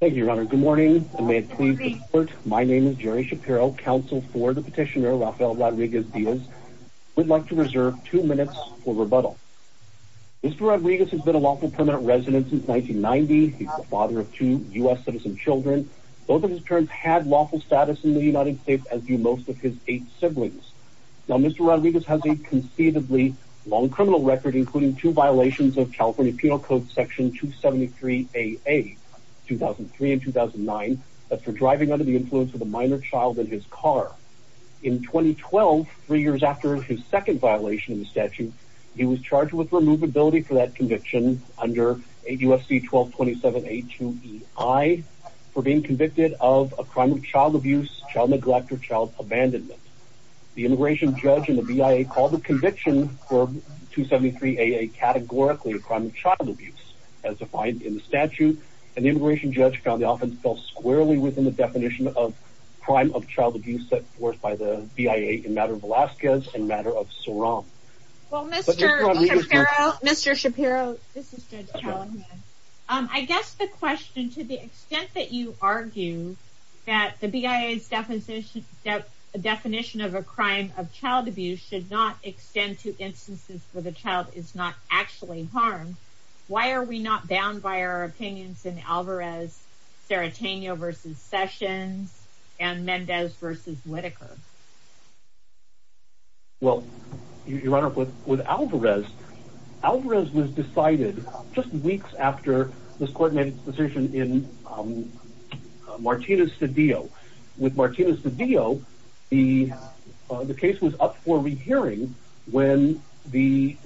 Thank you, Your Honor. Good morning, and may it please the court, my name is Jerry Shapiro, counsel for the petitioner Rafael Rodriguez Diaz. I would like to reserve two minutes for rebuttal. Mr. Rodriguez has been a lawful permanent resident since 1990. He's the father of two U.S. citizen children. Both of his parents had lawful status in the United States as do most of his eight siblings. Now, Mr. Rodriguez has a conceivably long criminal record, including two violations of California Penal Code Section 273AA, 2003 and 2009, that's for driving under the influence of a minor child in his car. In 2012, three years after his second violation of the statute, he was charged with removability for that conviction under USC 1227A2EI for being convicted of a crime of child abuse, child neglect, or child abandonment. The immigration judge and the BIA called the conviction for 273AA categorically a crime of child abuse, as defined in the statute, and the immigration judge found the offense fell squarely within the definition of crime of child abuse set forth by the BIA in the matter of Velazquez and the matter of Soran. Well, Mr. Shapiro, this is Judge Callahan. I guess the question, to the extent that you definition of a crime of child abuse should not extend to instances where the child is not actually harmed, why are we not bound by our opinions in Alvarez, Serratanio v. Sessions, and Mendez v. Whitaker? Well, Your Honor, with Alvarez, Alvarez was decided just weeks after this court made its decision on Martinez v. Dio. With Martinez v. Dio, the case was up for re-hearing when the...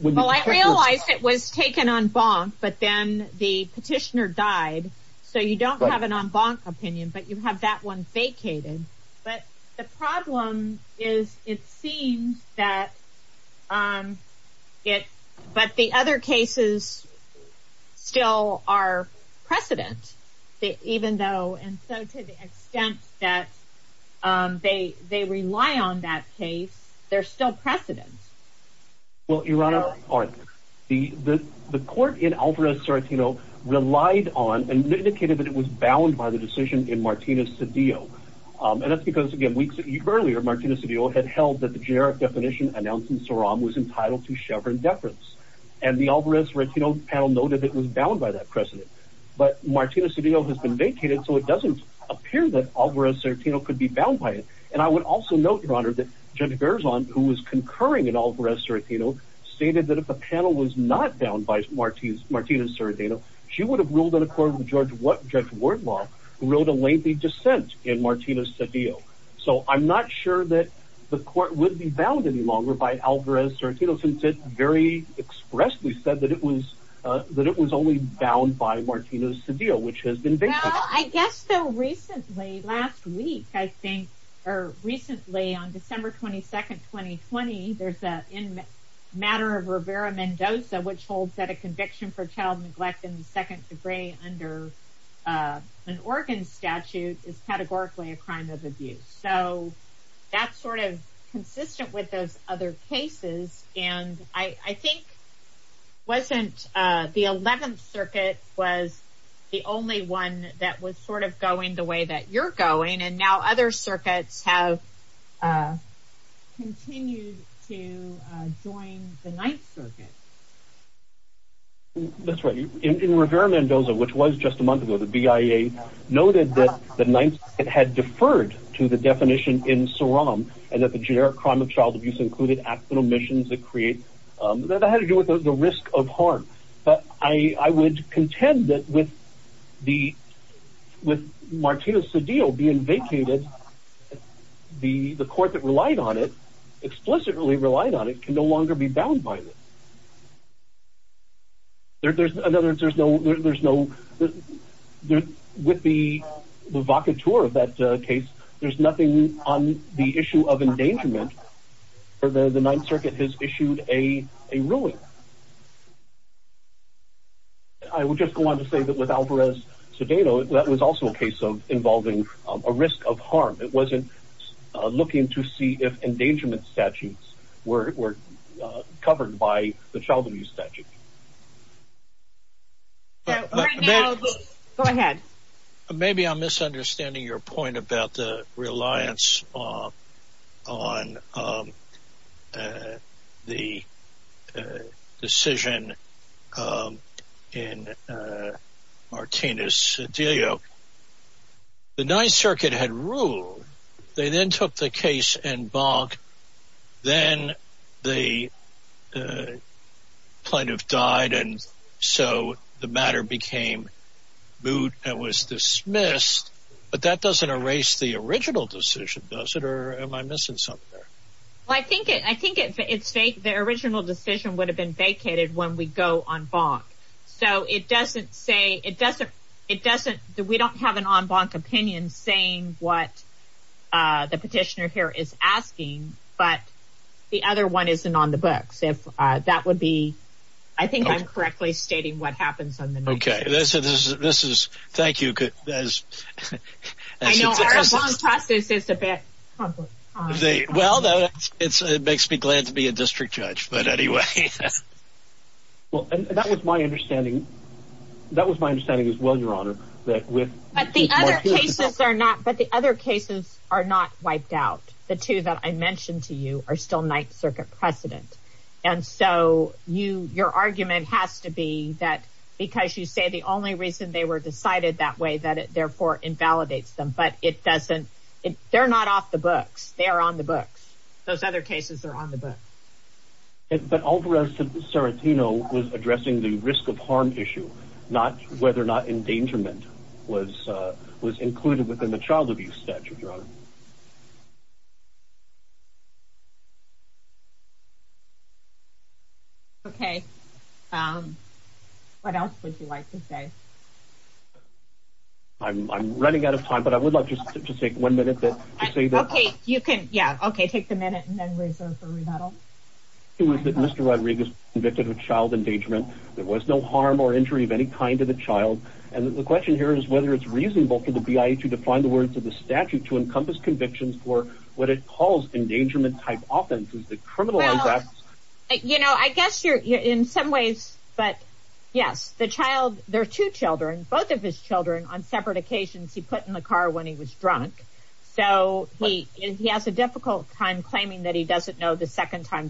Well, I realized it was taken en banc, but then the petitioner died, so you don't have an en banc opinion, but you have that one vacated. But the problem is, it seems that, but the other cases still are precedent, even though, and so to the extent that they rely on that case, they're still precedent. Well, Your Honor, the court in Alvarez, Serratanio, relied on and indicated that it was bound by the decision in Martinez v. Dio, and that's because, again, weeks earlier, Martinez v. Dio had held that the generic definition announcing Soran was entitled to chevron deference, and the Alvarez-Serratanio panel noted it was bound by that precedent. But Martinez v. Dio has been vacated, so it doesn't appear that Alvarez-Serratanio could be bound by it. And I would also note, Your Honor, that Judge Garzon, who was concurring in Alvarez-Serratanio, stated that if the panel was not bound by Martinez v. Serratanio, she would have ruled in accordance with Judge Wardlaw, who wrote a lengthy dissent in Martinez v. Dio. So I'm not sure that the court would be bound any longer by Alvarez-Serratanio, since it very expressly said that it was only bound by Martinez v. Dio, which has been vacated. Well, I guess, though, recently, last week, I think, or recently, on December 22, 2020, there's a matter of Rivera-Mendoza, which holds that a conviction for child neglect in the That's sort of consistent with those other cases. And I think, wasn't the 11th Circuit was the only one that was sort of going the way that you're going, and now other circuits have continued to join the 9th Circuit? That's right. In Rivera-Mendoza, which was just a month ago, the BIA noted that the 9th Circuit had deferred to the definition in SOROM, and that the generic crime of child abuse included accidental omissions that create, that had to do with the risk of harm. But I would contend that with the, with Martinez v. Dio being vacated, the court that relied on it, explicitly relied on it, can no longer be bound by it. There's, in other words, there's no, there's no, with the, the vacateur of that case, there's nothing on the issue of endangerment, for the 9th Circuit has issued a ruling. I would just go on to say that with Alvarez-Cedeno, that was also a case of involving a risk of harm. It wasn't looking to see if endangerment statutes were covered by the child abuse statute. Go ahead. Maybe I'm misunderstanding your point about the reliance on the decision in Martinez v. Dio. The 9th Circuit had ruled, they then took the case in bonk, then the plaintiff died, and so the matter became moot and was dismissed. But that doesn't erase the original decision, does it? Or am I missing something there? Well, I think it, I think it's fake. The original decision would have been vacated when we go on bonk. So it doesn't say, it doesn't, it doesn't, we don't have an on-bonk opinion saying what the petitioner here is asking. But the other one isn't on the books. If that would be, I think I'm correctly stating what happens on the 9th Circuit. Okay, this is, this is, thank you. I know our on-bonk process is a bit complicated. Well, it makes me glad to be a district judge. But anyway. Well, and that was my understanding. That was my understanding as well, Your Honor, that with But the other cases are not, but the other cases are not wiped out. The two that I mentioned to you are still 9th Circuit precedent. And so you, your argument has to be that because you say the only reason they were decided that way that it therefore invalidates them, but it doesn't, they're not off the books, they're on the books. Those other cases are on the books. But Alvarez-Sarantino was addressing the risk of harm issue, not whether or not endangerment was, was included within the child abuse statute, Your Honor. Okay. What else would you like to say? I'm running out of time, but I would like to just take one minute to say that. Okay, you can, yeah. Okay, take the minute and then reserve for rebuttal. It was that Mr. Rodriguez convicted of child endangerment. There was no harm or injury of any kind of a child. And the question here is whether it's reasonable for the BIA to define the words of the statute to encompass convictions for what it calls endangerment type offenses that criminalize acts. You know, I guess you're in some ways, but yes, the child, there are two children, both of his children on separate occasions he put in the car when he was drunk. So he, he has a difficult time that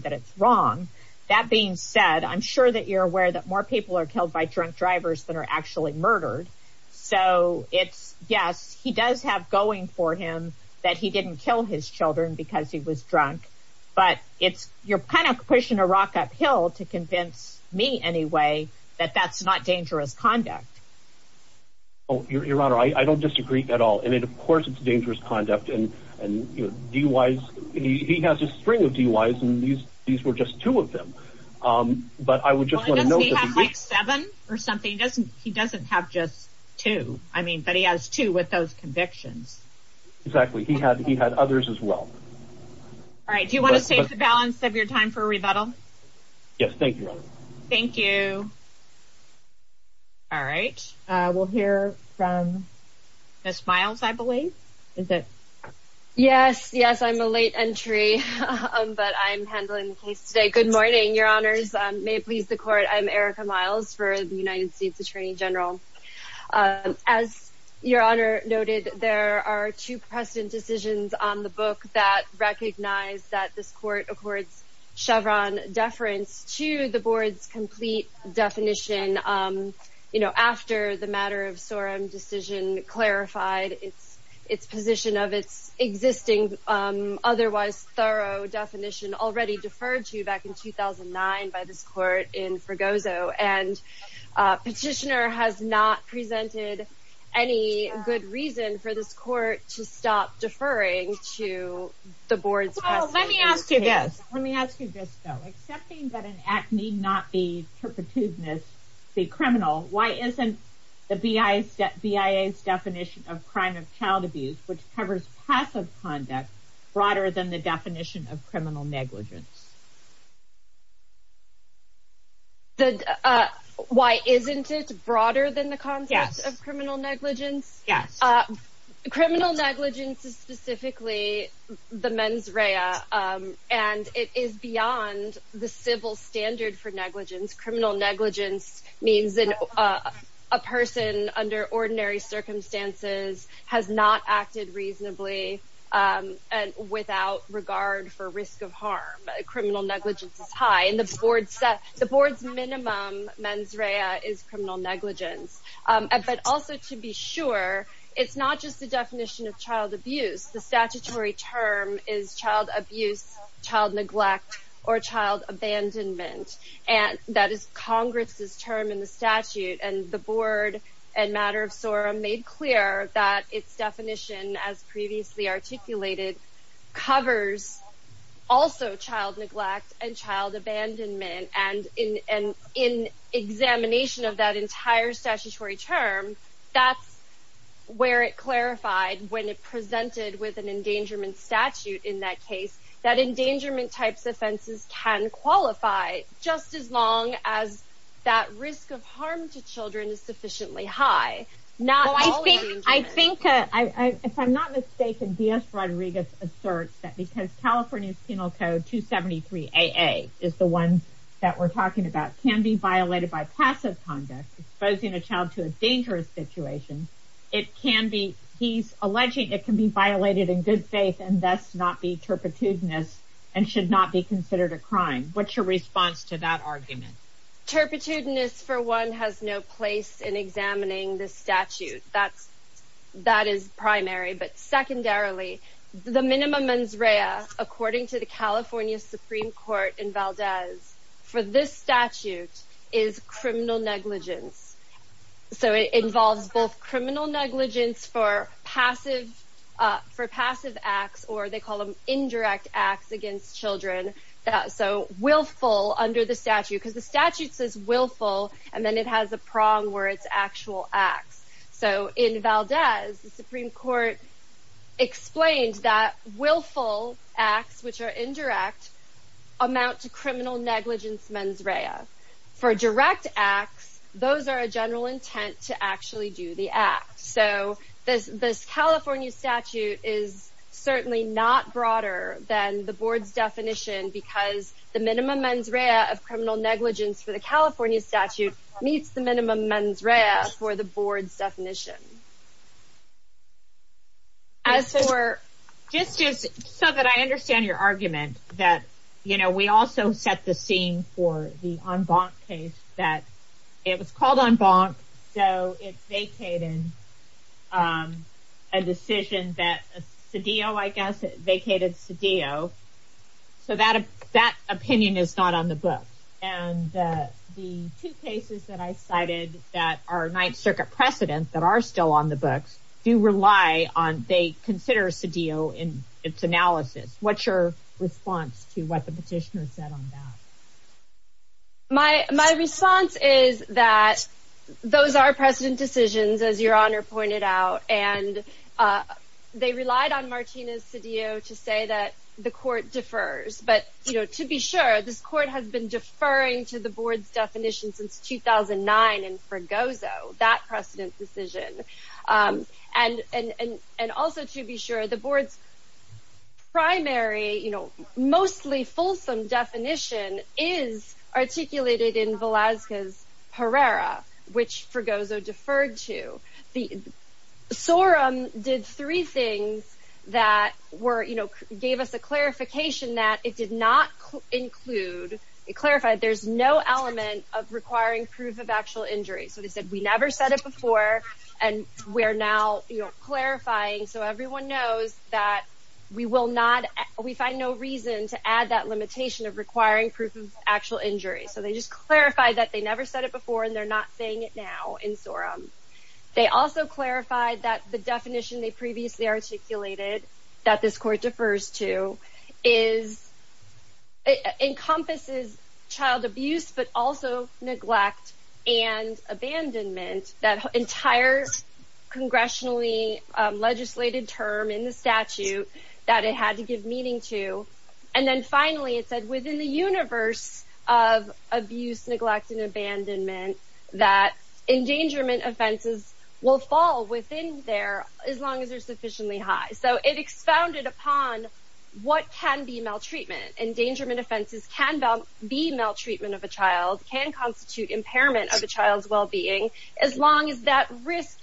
it's wrong. That being said, I'm sure that you're aware that more people are killed by drunk drivers than are actually murdered. So it's, yes, he does have going for him that he didn't kill his children because he was drunk, but it's, you're kind of pushing a rock uphill to convince me anyway, that that's not dangerous conduct. Oh, Your Honor, I don't disagree at all. And it, of course, it's dangerous conduct. And, and he was, he has a string of DUIs, and these, these were just two of them. But I would just want to know, Does he have like seven or something? He doesn't, he doesn't have just two. I mean, but he has two with those convictions. Exactly. He had, he had others as well. All right. Do you want to save the balance of your time for rebuttal? Yes. Thank you, Your Honor. Thank you. All right. We'll hear from Ms. Miles, I believe. Is it? Yes, yes, I'm a late entry. But I'm handling the case today. Good morning, Your Honors. May it please the court. I'm Erica Miles for the United States Attorney General. As Your Honor noted, there are two precedent decisions on the book that recognize that this court accords Chevron deference to the board's complete definition. You know, after the matter of Sorem decision clarified its, its position of its existing, otherwise thorough definition already deferred to back in 2009, by this court in Fregoso. And petitioner has not presented any good reason for this court to stop deferring to the board. Let me ask you this, let me ask you this, though, accepting that an act need not be perpetuiveness, be criminal, why isn't the BIA's definition of crime of child abuse, which covers passive conduct, broader than the definition of criminal negligence? The why isn't it broader than the concept of criminal negligence? Yes. Criminal negligence is the mens rea. And it is beyond the civil standard for negligence. Criminal negligence means that a person under ordinary circumstances has not acted reasonably. And without regard for risk of harm, criminal negligence is high in the board set the board's minimum mens rea is criminal negligence. But also to be sure, it's not just the definition of child abuse, the statutory term is child abuse, child neglect, or child abandonment. And that is Congress's term in the statute and the board and matter of Sorem made clear that its definition as previously articulated, covers also child neglect and child abandonment. And in an in examination of that entire statutory term, that's where it clarified when it presented with an endangerment statute in that case, that endangerment types offenses can qualify just as long as that risk of harm to children is sufficiently high. Now, I think I think I, if I'm not mistaken, DS Rodriguez asserts that because California Penal Code 273 AA is the one that we're talking about can be violated by passive conduct, exposing a child to a dangerous situation. It can be he's alleging it can be violated in good faith and thus not be turpitudinous and should not be considered a crime. What's your response to that argument? Turpitudinous for one has no place in examining this statute. That's, that is primary. But secondarily, the minimum mens rea, according to the California Supreme Court in Valdez, for this statute is criminal negligence. So it involves both criminal negligence for passive for passive acts, or they call them indirect acts against children. So willful under the statute because the statute says willful, and then it has a prong where it's actual acts. So in Valdez, the Supreme Court explained that willful acts which are indirect amount to criminal negligence mens rea. For direct acts, those are a general intent to actually do the act. So this this California statute is certainly not broader than the board's definition because the minimum mens rea of criminal negligence for the California statute meets the minimum mens rea for the board's definition. As for justice, so that I understand your argument that, you know, we also set the scene for the en banc case that it was called en banc. So it's vacated. A decision that CDO, I guess, vacated CDO. So that that opinion is not on the book. And the two cases that I cited that are Ninth Circuit precedent that are still on the books do rely on they consider CDO in its analysis. What's your response to what the petitioner said on that? My response is that those are precedent decisions, as Your Honor pointed out, and they relied on that the court defers. But, you know, to be sure, this court has been deferring to the board's definition since 2009. And for Gozo, that precedent decision and and and also to be sure the board's primary, you know, mostly fulsome definition is articulated in Velasquez Herrera, which for Gozo deferred to the Sorum did three things that were, you know, gave us a clarification that it did not include it clarified there's no element of requiring proof of actual injury. So they said we never said it before. And we're now clarifying so everyone knows that we will not we find no reason to add that limitation of requiring proof of actual injury. So they just clarified that they never said it before. And they're not saying it now in Sorum. They also clarified that the definition they previously articulated that this court defers to is encompasses child abuse, but also neglect and abandonment that entire congressionally legislated term in the statute that it had to give meaning to. And then finally, it said within the universe of abuse, neglect and abandonment, that endangerment offenses will fall within there as long as they're sufficiently high. So it expounded upon what can be maltreatment, endangerment offenses can be maltreatment of a child can constitute impairment of a child's well-being, as long as that risk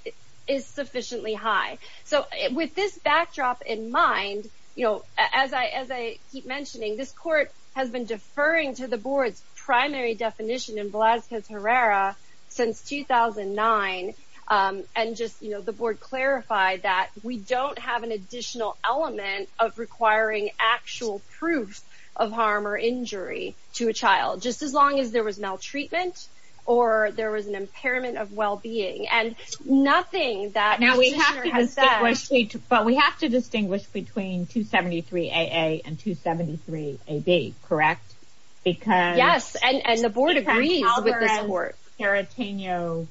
is sufficiently high. So with this backdrop in mind, you know, as I as I keep mentioning, this court has been deferring to the board's primary definition in Velazquez Herrera since 2009. And just, you know, the board clarified that we don't have an additional element of requiring actual proof of harm or injury to a child just as long as there was maltreatment, or there was an impairment of well-being and nothing that now we have to say, but we have to distinguish between 273 AA and 273 AB, correct? Because yes, and the board agrees with this court. Carateno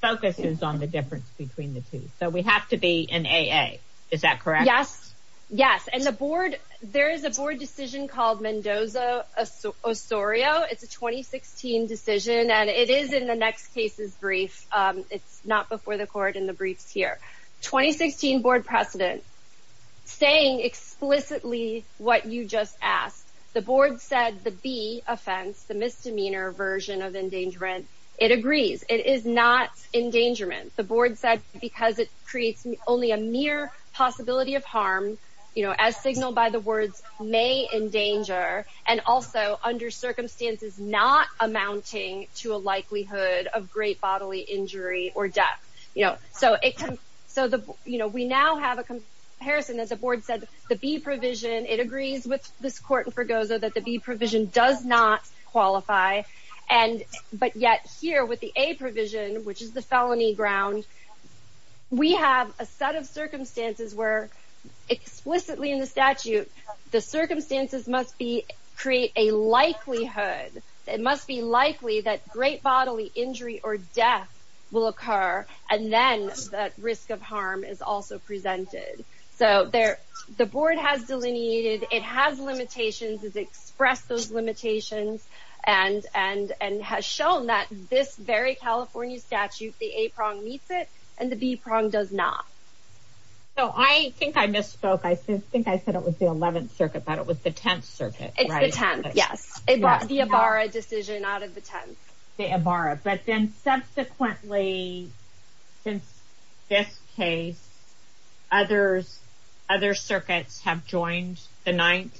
focuses on the difference between the two. So we have to be an AA. Is that correct? Yes. Yes. And the board, there is a board decision called Mendoza Osorio. It's a 2016 decision. And it is in the next case's brief. It's not before the court in the briefs here. 2016 board precedent, saying explicitly what you just asked. The board said the B offense, the misdemeanor version of endangerment. It agrees. It is not endangerment. The board said because it creates only a mere possibility of harm, you know, as signaled by the words may endanger and also under circumstances not amounting to a likelihood of great bodily injury or death. You know, so it can. So, you know, we now have a comparison, as the board said, the B provision. It agrees with this court in Forgoza. That the B provision does not qualify. And but yet here with the A provision, which is the felony ground, we have a set of circumstances where explicitly in the statute, the circumstances must be create a likelihood. It must be likely that great bodily injury or death will occur. And then the risk of harm is also presented. So there the board has delineated. It has limitations, has expressed those limitations and and and has shown that this very California statute, the A prong meets it and the B prong does not. So I think I misspoke. I think I said it was the 11th circuit, but it was the 10th circuit. It's the 10th. Yes. It was the Ibarra decision out of the 10th. The Ibarra. But then subsequently, since this case, others, other circuits have joined the 9th.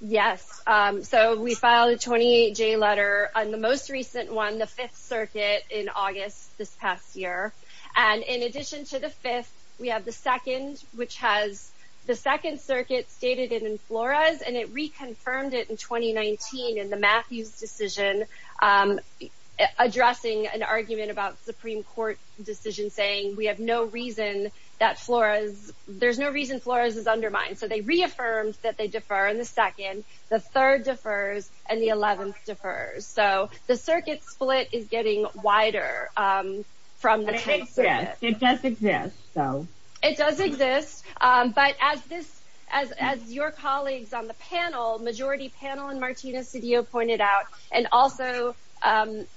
Yes. So we filed a 28 J letter on the most recent one, the 5th circuit in August this past year. And in addition to the fifth, we have the second, which has the second circuit stated in Flores and it reconfirmed it in 2019 in the Matthews decision addressing an argument about Supreme Court decision saying we have no reason that Flores there's no reason Flores is undermined. So they reaffirmed that they differ in the second, the third defers and the 11th differs. So the circuit split is getting wider from the 10th. It does exist. So it does exist. But as this as as your colleagues on the panel, majority panel and Martina Cedillo pointed out, and also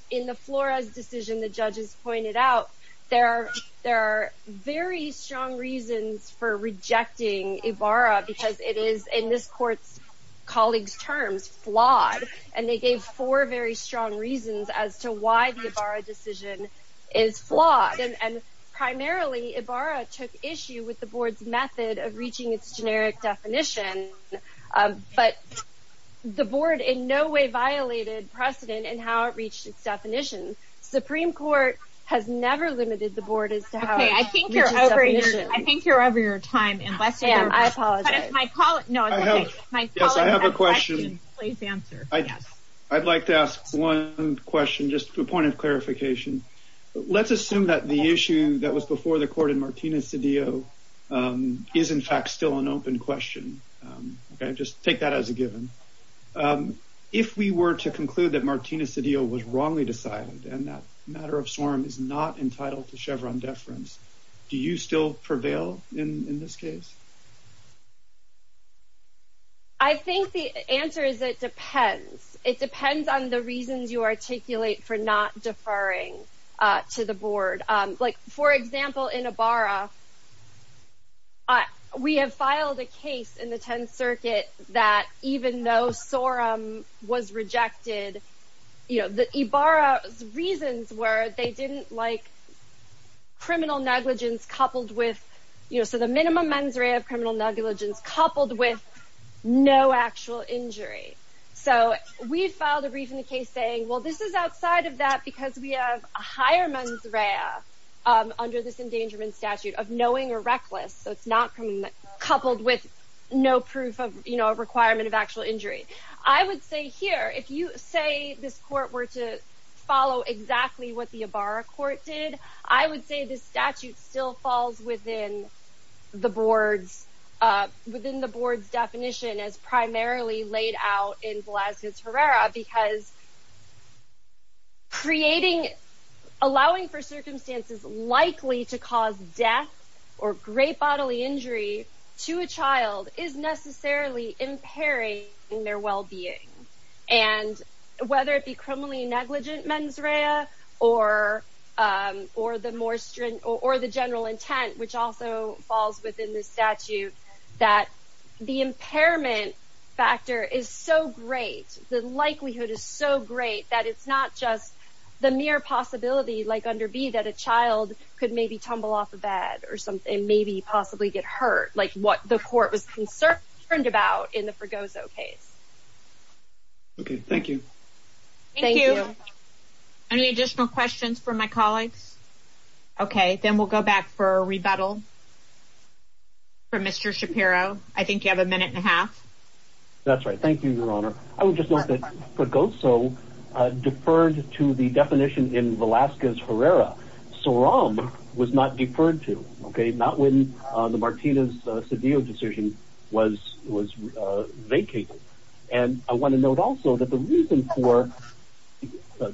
in the Flores decision, the judges pointed out there are there are very strong reasons for rejecting Ibarra because it is in this court's colleagues terms flawed and they gave four very strong reasons as to why the Ibarra decision is flawed. And primarily Ibarra took issue with the board's method of reaching its generic definition. But the board in no way violated precedent and how it reached its definition. Supreme Court has never limited the board. I think you're over your time. I'd like to ask one question, just a point of clarification. Let's assume that the issue that was before the court in Martina Cedillo is, in fact, still an open question. Just take that as a given. If we were to conclude that Martina Cedillo was wrongly decided and that matter of storm is not entitled to Chevron deference, do you still prevail in this case? I think the answer is it depends. It depends on the reasons you articulate for not deferring to the board. Like, for example, in Ibarra. We have filed a case in the 10th Circuit that even though Sorum was rejected, Ibarra's reasons were they didn't like criminal negligence coupled with, you know, so the minimum mens rea of criminal negligence coupled with no actual injury. So we filed a brief in the case saying, well, this is outside of that because we have a higher mens rea under this endangerment statute of knowing or reckless, so it's not coupled with no proof of, you know, a requirement of actual injury. I would say here, if you say this court were to follow exactly what the Ibarra court did, I would say this statute still falls within the board's definition as primarily laid out in Velazquez-Herrera because creating, allowing for circumstances likely to cause death or great bodily injury to a child is necessarily impairing their well-being. And whether it be criminally negligent mens rea or the general intent, which also falls within this statute, that the impairment factor is so great, the likelihood is so great that it's not just the mere possibility, like under B, that a child could maybe tumble off a bed or maybe possibly get hurt, like what the court was concerned about in the Fregoso case. Okay. Thank you. Thank you. Any additional questions from my colleagues? Okay. Then we'll go back for a rebuttal from Mr. Shapiro. I think you have a minute and a half. That's right. Thank you, Your Honor. I would just note that Fregoso deferred to the definition in Velazquez-Herrera. Soram was not deferred to, okay, not when the Martinez-Cedillo decision was vacated. And I want to note also that the reason for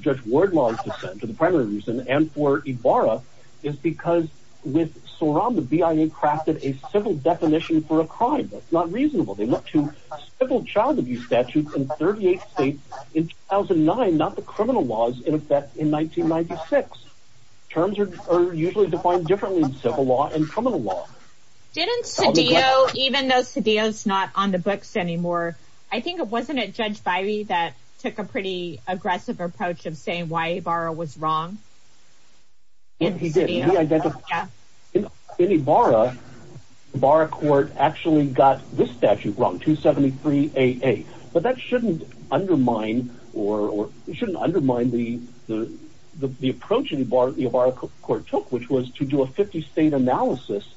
Judge Wardlaw's dissent, the primary reason, and for Ibarra is because with Soram, the BIA crafted a civil definition for a crime that's not reasonable. They looked to civil child abuse statutes in 38 states in 2009, not the criminal laws in effect in 1996. Terms are usually defined differently in civil law and criminal law. Didn't Cedillo, even though Cedillo's not on the books anymore, I think, wasn't it Judge Bybee that took a pretty aggressive approach of saying why Ibarra was wrong? He did. Yeah. In Ibarra, the Ibarra court actually got this statute wrong, 273AA. But that shouldn't undermine the approach the Ibarra court took, which was to do a 50-state analysis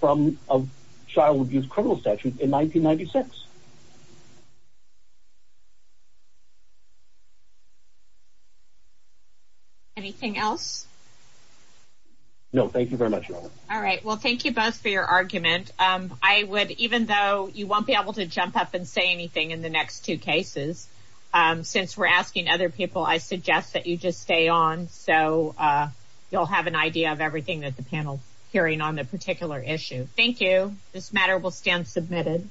from a child abuse criminal statute in 1996. Anything else? No. Thank you very much. All right. Well, thank you both for your argument. I would, even though you won't be able to jump up and say anything in the next two cases, since we're asking other people, I suggest that you just stay on so you'll have an idea of everything that the panel's hearing on the particular issue. Thank you. This matter will stand submitted.